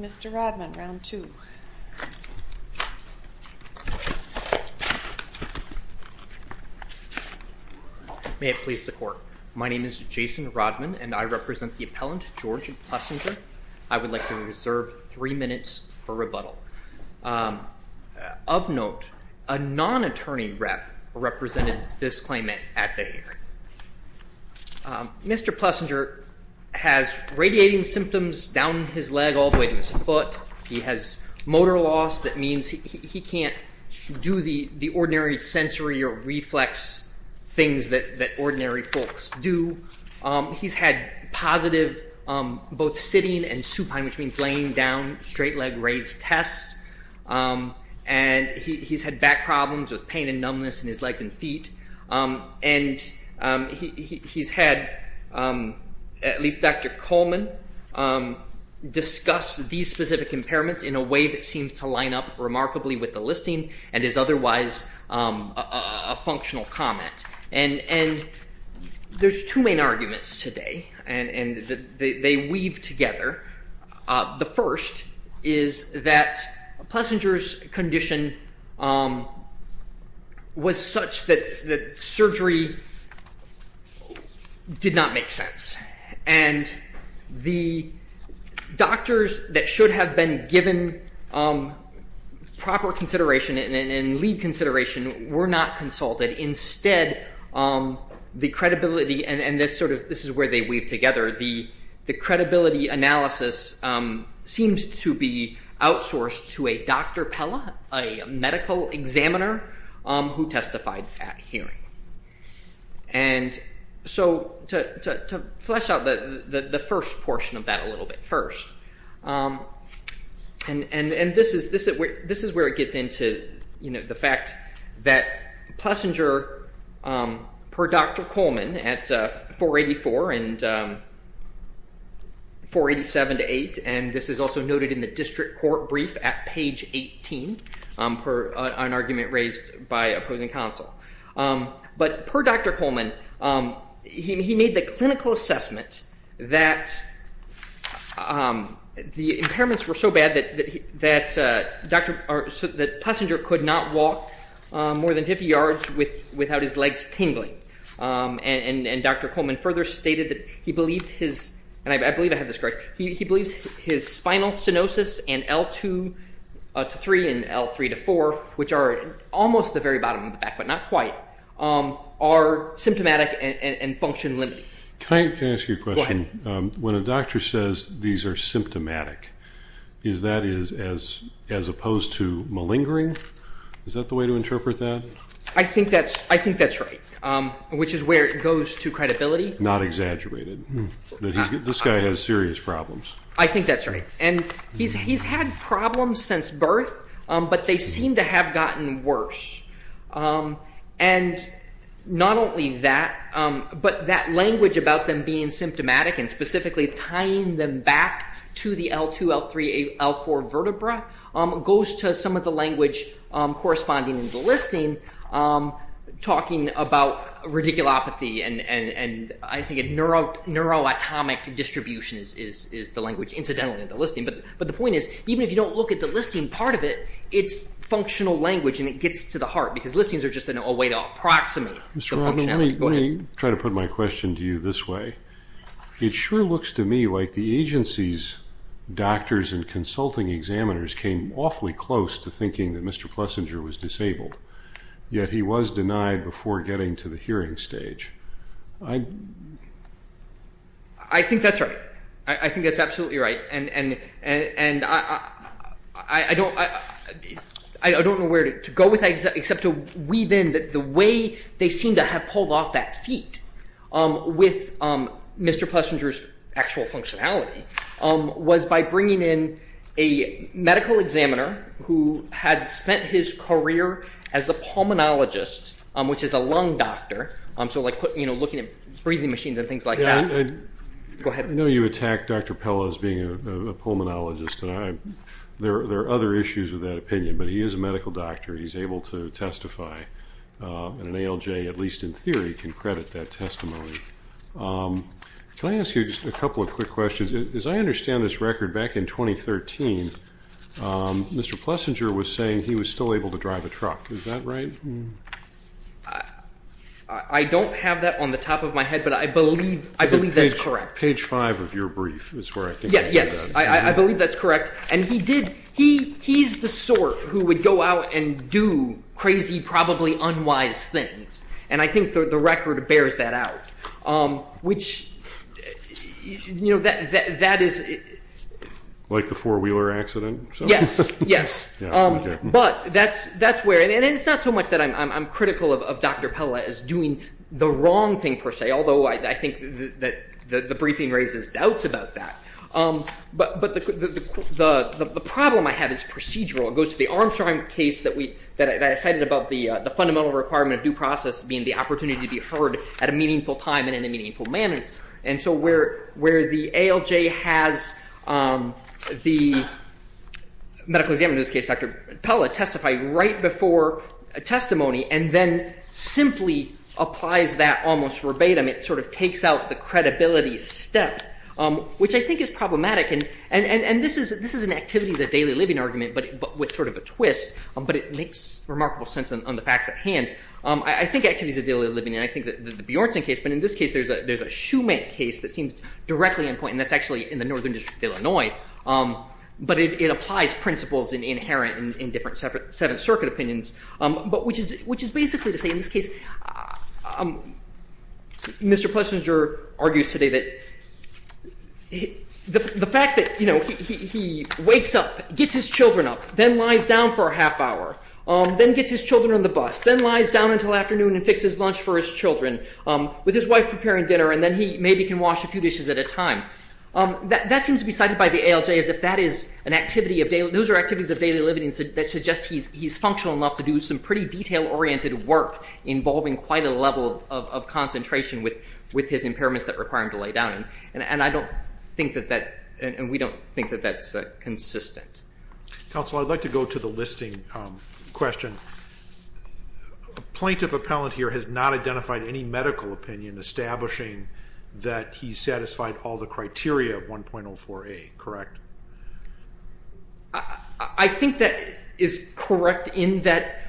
Mr. Rodman, II May it please the Court, my name is Jason Rodman and I represent the appellant, George Plessinger. I would like to reserve three minutes for rebuttal. Of note, a non-attorney rep represented this claimant at the hearing. Mr. Plessinger has radiating symptoms down his leg all the way to his foot. He has motor loss that means he can't do the ordinary sensory or reflex things that ordinary folks do. He has had positive both sitting and supine which means laying down, straight leg, raised test. And he has had back problems with pain and numbness in his legs and feet. And he has had at least Dr. Coleman discuss these specific impairments in a way that seems to line up remarkably with the listing and is otherwise a functional comment. And there are two main arguments today and they weave together. The first is that Plessinger's condition was such that the surgery did not make sense and the doctors that should have been given proper consideration and lead consideration were not consulted. Instead, the credibility and this is where they weave together. The credibility analysis seems to be outsourced to a Dr. Pella, a medical examiner who testified at hearing. And so to flesh out the first portion of that a little bit first, and this is where it gets into the fact that Plessinger per Dr. Coleman at 484 and 487 to 8 and this is also noted in the district court brief at page 18 for an argument raised by opposing counsel. But per Dr. Coleman, he made the clinical assessment that the impairments were so bad that Plessinger could not walk more than 50 yards without his legs tingling. And Dr. Coleman further stated that he believes his spinal stenosis and L2 to 3 and L3 to 4, which are almost at the very bottom of the back but not quite, are symptomatic and function limited. Can I ask you a question? Go ahead. When a doctor says these are symptomatic, is that as opposed to malingering? Is that the way to interpret that? I think that's right, which is where it goes to credibility. Not exaggerated. This guy has serious problems. I think that's right. And he's had problems since birth, but they seem to have gotten worse. And not only that, but that language about them being symptomatic and specifically tying them back to the L2, L3, L4 vertebra goes to some of the language corresponding to the listing, talking about radiculopathy and I think neuroatomic distribution is the language incidentally in the listing. But the point is, even if you don't look at the listing part of it, it's functional language and it gets to the heart because listings are just a way to approximate the functionality. Let me try to put my question to you this way. It sure looks to me like the agency's Mr. Plessinger was disabled, yet he was denied before getting to the hearing stage. I think that's right. I think that's absolutely right. And I don't know where to go with that except to weave in the way they seem to have pulled off that feat with Mr. Plessinger's actual functionality was by bringing in a medical examiner who had spent his career as a pulmonologist, which is a lung doctor, so like looking at breathing machines and things like that. I know you attack Dr. Pella as being a pulmonologist. There are other issues with that opinion, but he is a medical doctor. He's able to testify. And an ALJ, at least in theory, can credit that testimony. Can I ask you just a couple of quick questions? As I understand this record, back in 2013, Mr. Plessinger was saying he was still able to drive a truck. Is that right? I don't have that on the top of my head, but I believe that's correct. Page five of your brief is where I think you got it. Yes, I believe that's correct. And he's the sort who would go out and do crazy, probably unwise things, and I think the record bears that out, which, you know, that is... Like the four-wheeler accident? Yes, yes. But that's where, and it's not so much that I'm critical of Dr. Pella as doing the wrong thing, per se, although I think that the briefing raises doubts about that. But the problem I have is procedural. It goes to the Armstrong case that I cited about the fundamental requirement of due process being the opportunity to be heard at a meaningful time and in a meaningful manner. And so where the ALJ has the medical examiner, in this case Dr. Pella, testify right before a testimony and then simply applies that almost verbatim, it sort of takes out the credibility step, which I think is problematic. And this is an activities of daily living argument, but with sort of a twist, but it makes remarkable sense on the facts at hand. I think activities of daily living, and I think that the Bjornson case, but in this case there's a Schumann case that seems directly in point, and that's actually in the Northern District of Illinois, but it applies principles inherent in different Seventh Circuit opinions, which is basically to say, in this case, Mr. Plesenger argues today that the fact that, you know, he wakes up, gets his children up, then lies down for a half hour, then gets his children on the bus, then lies down until afternoon and fixes lunch for his children, with his wife preparing dinner, and then he maybe can wash a few dishes at a time. That seems to be cited by the ALJ as if that is an activity of daily, those are activities of daily living that suggest he's functional enough to do some pretty detail-oriented work involving quite a level of concentration with his impairments that require him to lay down. And I don't think that that, and we don't think that that's consistent. Counsel, I'd like to go to the listing question. A plaintiff appellant here has not identified any medical opinion establishing that he satisfied all the criteria of 1.04a, correct? I think that is correct in that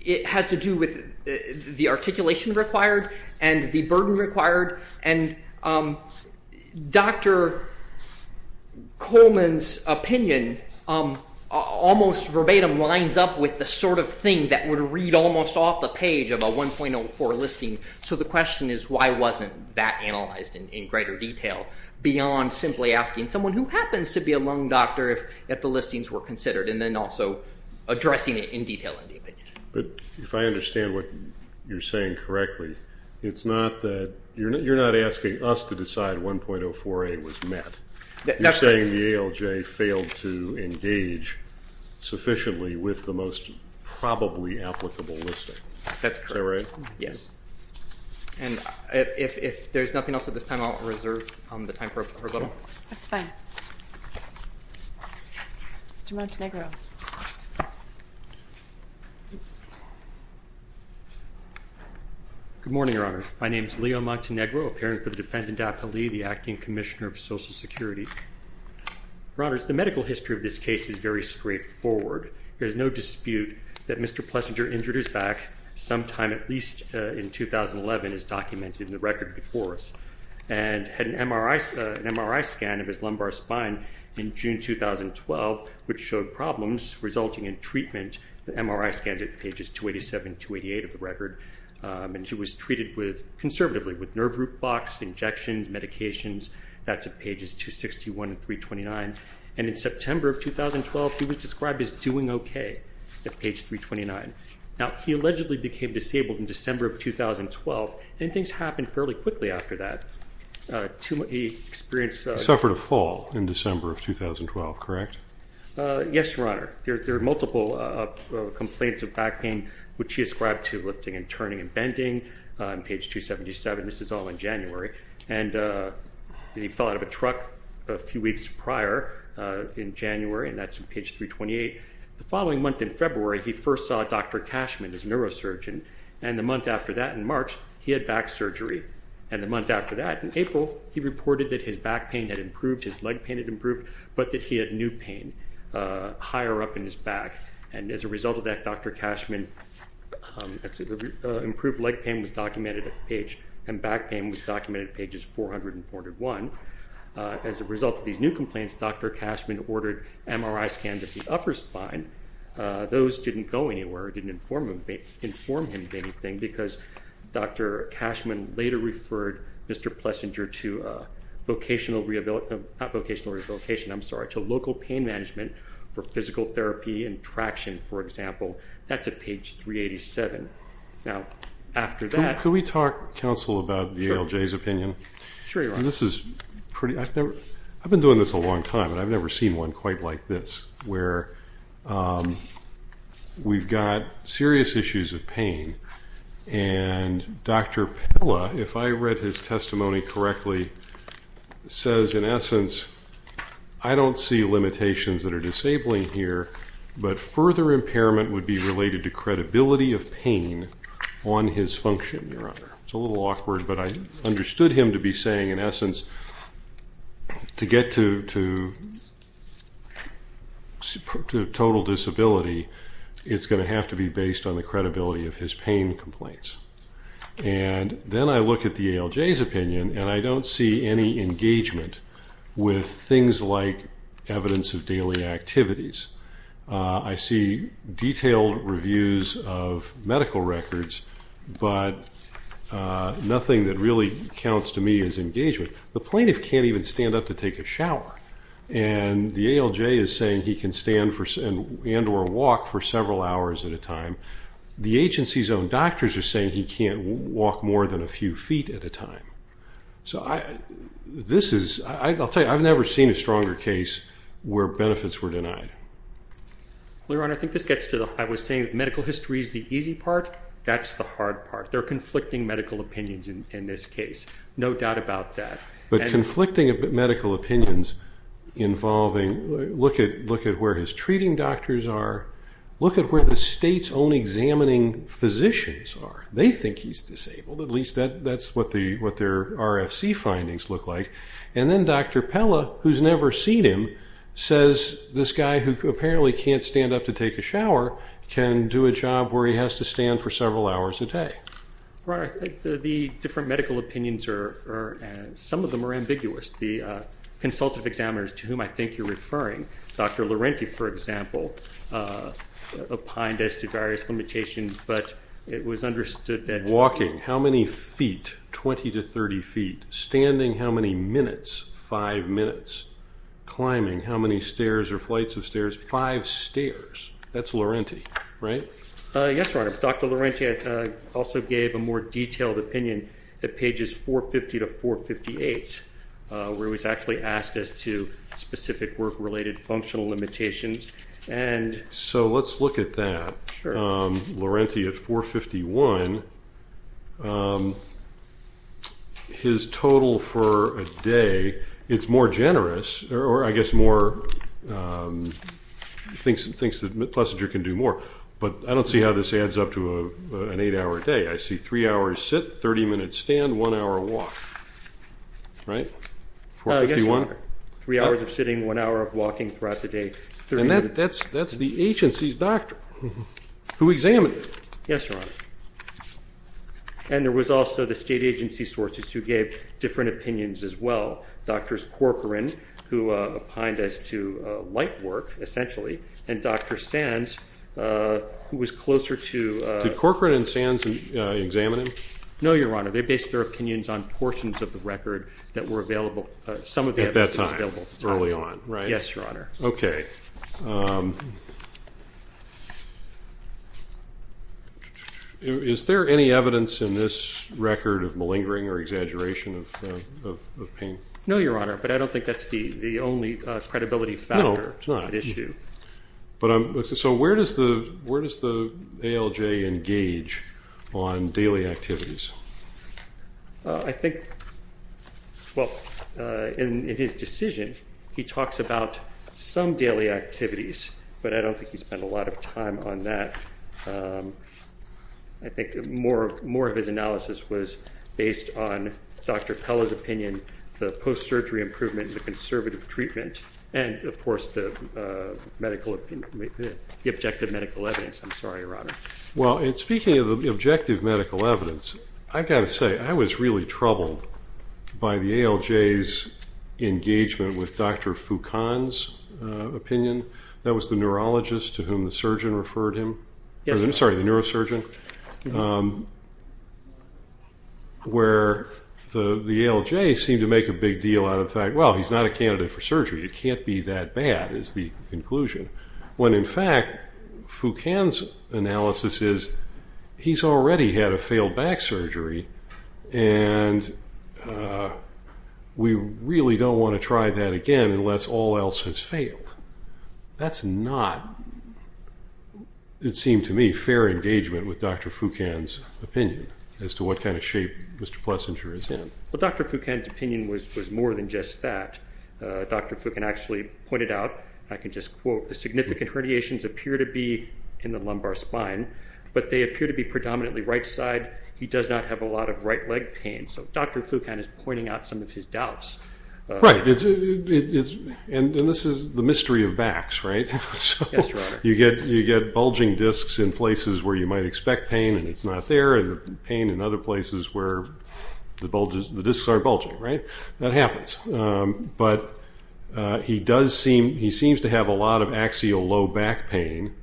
it has to do with the articulation required and the opinion almost verbatim lines up with the sort of thing that would read almost off the page of a 1.04 listing. So the question is why wasn't that analyzed in greater detail beyond simply asking someone who happens to be a lung doctor if the listings were considered and then also addressing it in detail in the opinion. But if I understand what you're saying correctly, it's not that, you're not asking us to decide why 1.04a was met. You're saying the ALJ failed to engage sufficiently with the most probably applicable listing. Is that right? Yes. And if there's nothing else at this time, I'll reserve the time for a rebuttal. That's fine. Mr. Montenegro. Good morning, Your Honor. My name is Leo Montenegro, apparent for the defendant appellee, the Acting Commissioner of Social Security. Your Honors, the medical history of this case is very straightforward. There's no dispute that Mr. Plessinger injured his back sometime at least in 2011 as documented in the record before us and had an MRI scan of his lumbar spine in June 2012 which showed problems resulting in treatment. The MRI scans at pages 287-288 of the record and he was treated conservatively with nerve root box, injections, medications. That's at pages 261 and 329. And in September of 2012, he was described as doing okay at page 329. Now, he allegedly became disabled in December of 2012 and things happened fairly quickly after that. He suffered a fall in December of 2012, correct? Yes, Your Honor. There are multiple complaints of back pain which he ascribed to lifting and turning and bending on page 277. This is all in January. And he fell out of a truck a few weeks prior in January and that's on page 328. The following month in February, he first saw Dr. Cashman, his neurosurgeon, and the month after that in March, he had back surgery. And the month after that in April, he reported that his back pain had increased. He had pain higher up in his back. And as a result of that, Dr. Cashman, improved leg pain was documented at the page and back pain was documented at pages 400 and 401. As a result of these new complaints, Dr. Cashman ordered MRI scans at the upper spine. Those didn't go anywhere. It didn't inform him of anything because Dr. Cashman later referred Mr. Plessinger to vocational rehabilitation, not vocational rehabilitation, I'm sorry, to local pain management for physical therapy and traction, for example. That's at page 387. Now, after that... Can we talk, counsel, about the ALJ's opinion? Sure, Your Honor. This is pretty... I've been doing this a long time and I've never seen one quite like this where we've got serious issues of pain and Dr. Pella, if I read his testimony correctly, says in essence, I don't see limitations that are disabling here, but further impairment would be related to credibility of pain on his function, Your Honor. It's a little awkward, but I understood him to be saying, in essence, to get to... to total disability, it's going to have to be based on the credibility of his pain complaints. And then I look at the ALJ's opinion and I don't see any engagement with things like evidence of daily activities. I see detailed reviews of medical records, but nothing that really counts to me as engagement. The plaintiff can't even stand up to take a shower, and the ALJ is saying he can stand and or walk for several hours at a time. The agency's own doctors are saying he can't walk more than a few feet at a time. So this is... I'll tell you, I've never seen a stronger case where benefits were denied. Well, Your Honor, I think this gets to the... I was saying medical history is the easy part. That's the hard part. They're conflicting medical opinions in this case. No doubt about that. But conflicting medical opinions involving... Look at where his treating doctors are. Look at where the state's own examining physicians are. They think he's disabled. At least that's what their RFC findings look like. And then Dr. Pella, who's never seen him, says this guy who apparently can't stand up to take a shower can do a job where he has to stand for several hours a day. Your Honor, the different medical opinions are... Some of them are ambiguous. The consultative examiners to whom I think you're referring, Dr. Laurenti, for example, opined as to various limitations, but it was understood that... Walking, how many feet? 20 to 30 feet. Standing, how many minutes? Five minutes. Climbing, how many stairs or flights of stairs? Five stairs. That's Laurenti, right? Yes, Your Honor. Dr. Laurenti also gave a more detailed opinion at pages 450 to 458, where he was actually asked as to specific work-related functional limitations. So let's look at that. Laurenti at 451, his total for a day, it's more generous, or I don't see how this adds up to an eight-hour day. I see three hours sit, 30 minutes stand, one hour walk, right? 451? Yes, Your Honor. Three hours of sitting, one hour of walking throughout the day. That's the agency's doctor who examined it. Yes, Your Honor. And there was also the state agency sources who gave different opinions as well. Drs. Corcoran, who opined as to light work, essentially, and Dr. Sands, who was closer to... Did Corcoran and Sands examine it? No, Your Honor. They based their opinions on portions of the record that were available, some of the evidence was available at the time. At that time, early on, right? Yes, Your Honor. Okay. Is there any evidence in this record of malingering or exaggeration of pain? No, Your Honor, but I don't think that's the only credibility factor at issue. No, it's not. So where does the ALJ engage on daily activities? I think, well, in his decision, he talks about some daily activities, but I don't think he spent a lot of time on that. I think more of his analysis was based on Dr. Pella's opinion, the post-surgery improvement, the conservative treatment, and, of course, the objective medical evidence. I'm sorry, Your Honor. Well, in speaking of the objective medical evidence, I've got to say, I was really troubled by the ALJ's engagement with Dr. Foucan's opinion. That was the neurologist to whom the surgeon referred him. I'm sorry, the neurosurgeon. Where the ALJ seemed to make a big deal out of the fact, well, he's not a candidate for surgery, it can't be that bad, is the conclusion. When, in fact, Foucan's analysis is, he's already had a failed back surgery and we really don't want to try that again unless all else has failed. That's not, it seemed to me, fair engagement with Dr. Foucan's opinion as to what kind of shape Mr. Plessinger is in. Well, Dr. Foucan's opinion was more than just that. Dr. Foucan actually pointed out, I can just quote, the significant herniations appear to be in the lumbar spine, but they appear to be predominantly right side. He does not have a lot of right leg pain. So Dr. Foucan is pointing out some of his doubts. Right. And this is the mystery of backs, right? Yes, Your Honor. You get bulging discs in places where you might expect pain and it's not there, and the pain in other places where the discs are bulging, right? That happens. But he does seem, he seems to have a lot of axial low back pain.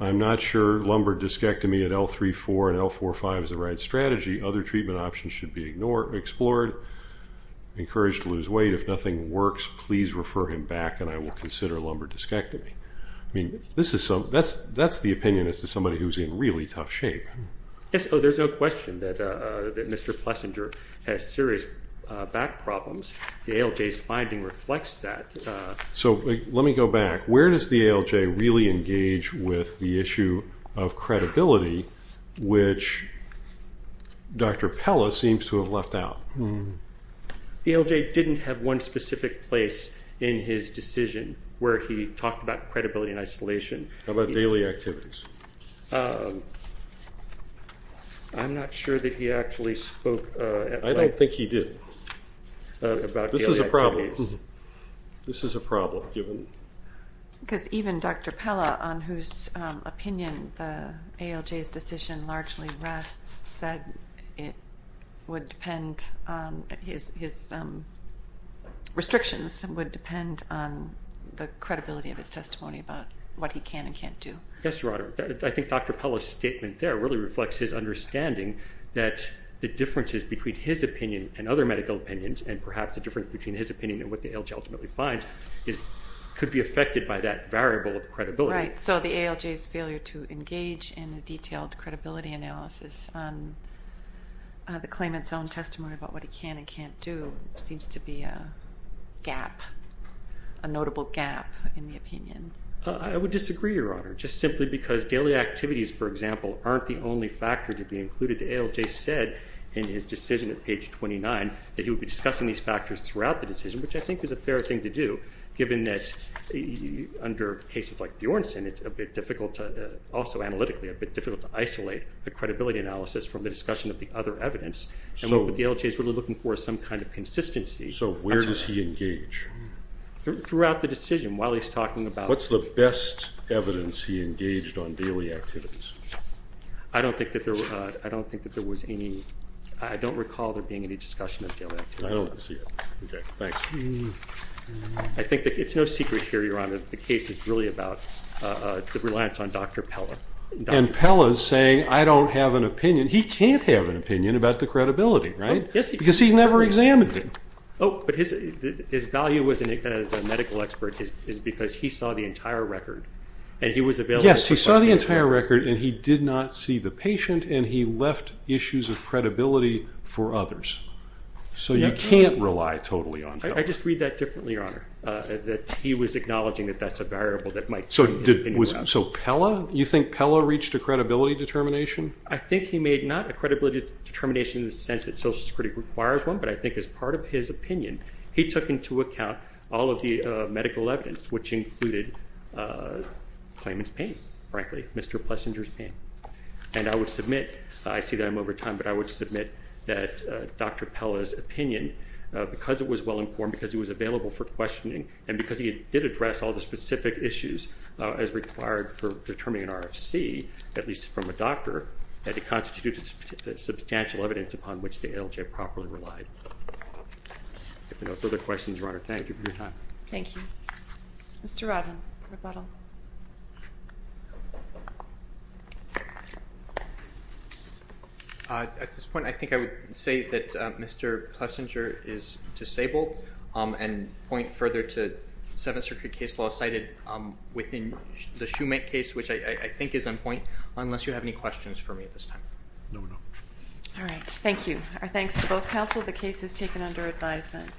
I'm not sure lumbar discectomy at L3-4 and L4-5 is the right strategy. Other treatment options should be ignored, explored, encouraged to lose weight. If nothing works, please refer him back and I will consider lumbar discectomy. I mean, that's the opinion as to somebody who's in really tough shape. Yes, there's no question that Mr. Plessinger has serious back problems. The ALJ's finding reflects that. So let me go back. Where does the ALJ really engage with the issue of credibility, which Dr. Pella seems to have left out? The ALJ didn't have one specific place in his decision where he talked about credibility and isolation. How about daily activities? I'm not sure that he actually spoke at length. I don't think he did. About daily activities. This is a problem. Because even Dr. Pella, on whose opinion the ALJ's decision largely rests, said it would depend, his restrictions would depend on the credibility of his testimony about what he can and can't do. Yes, Your Honor. I think Dr. Pella's statement there really reflects his understanding that the differences between his opinion and other medical opinions and perhaps the difference between his opinion and what the ALJ ultimately finds could be affected by that variable of credibility. Right. So the ALJ's failure to engage in a detailed credibility analysis on the claimant's own testimony about what he can and can't do seems to be a gap, a notable gap in the opinion. I would disagree, Your Honor, just simply because daily activities, for example, aren't the only factor to be included. The ALJ said in his decision at page 29 that he would be discussing these factors throughout the decision, which I think is a fair thing to do given that under cases like Bjornsson, it's a bit difficult to, also analytically, a bit difficult to isolate a credibility analysis from the discussion of the other evidence. And what the ALJ is really looking for is some kind of consistency. So where does he engage? Throughout the decision while he's talking about... What's the best evidence he engaged on daily activities? I don't think that there was any... I don't recall there being any discussion of daily activities. I don't see it. Thanks. I think it's no secret here, Your Honor, that the case is really about the reliance on Dr. Pella. And Pella's saying, I don't have an opinion. He can't have an opinion about the credibility, right? Yes, he can. Because he's never examined him. Oh, but his value as a medical expert is because he saw the entire record and he was available... Yes, he saw the entire record and he did not see the patient and he left issues of credibility for others. So you can't rely totally on Pella. I just read that differently, Your Honor, that he was acknowledging that that's a variable that might... So Pella, you think Pella reached a credibility determination? I think he made not a credibility determination in the sense that social security requires one, but I think as part of his opinion, he took into account all of the medical evidence, which included claimant's pain, frankly, Mr. Plessinger's pain. And I would submit, I see that I'm over time, but I would submit that Dr. Pella's opinion, because it was well-informed, because he was available for questioning, and because he did address all the specific issues as required for determining an RFC, at least from a doctor, that it constitutes substantial evidence upon which the ALJ properly relied. If there are no further questions, Your Honor, thank you for your time. Thank you. Mr. Rodman, rebuttal. At this point, I think I would say that Mr. Plessinger is disabled, and point further to 7th Circuit case law cited within the Shoemake case, which I think is on point, unless you have any questions for me at this time. No, Your Honor. All right, thank you. Our thanks to both counsel. The case is taken under advisement.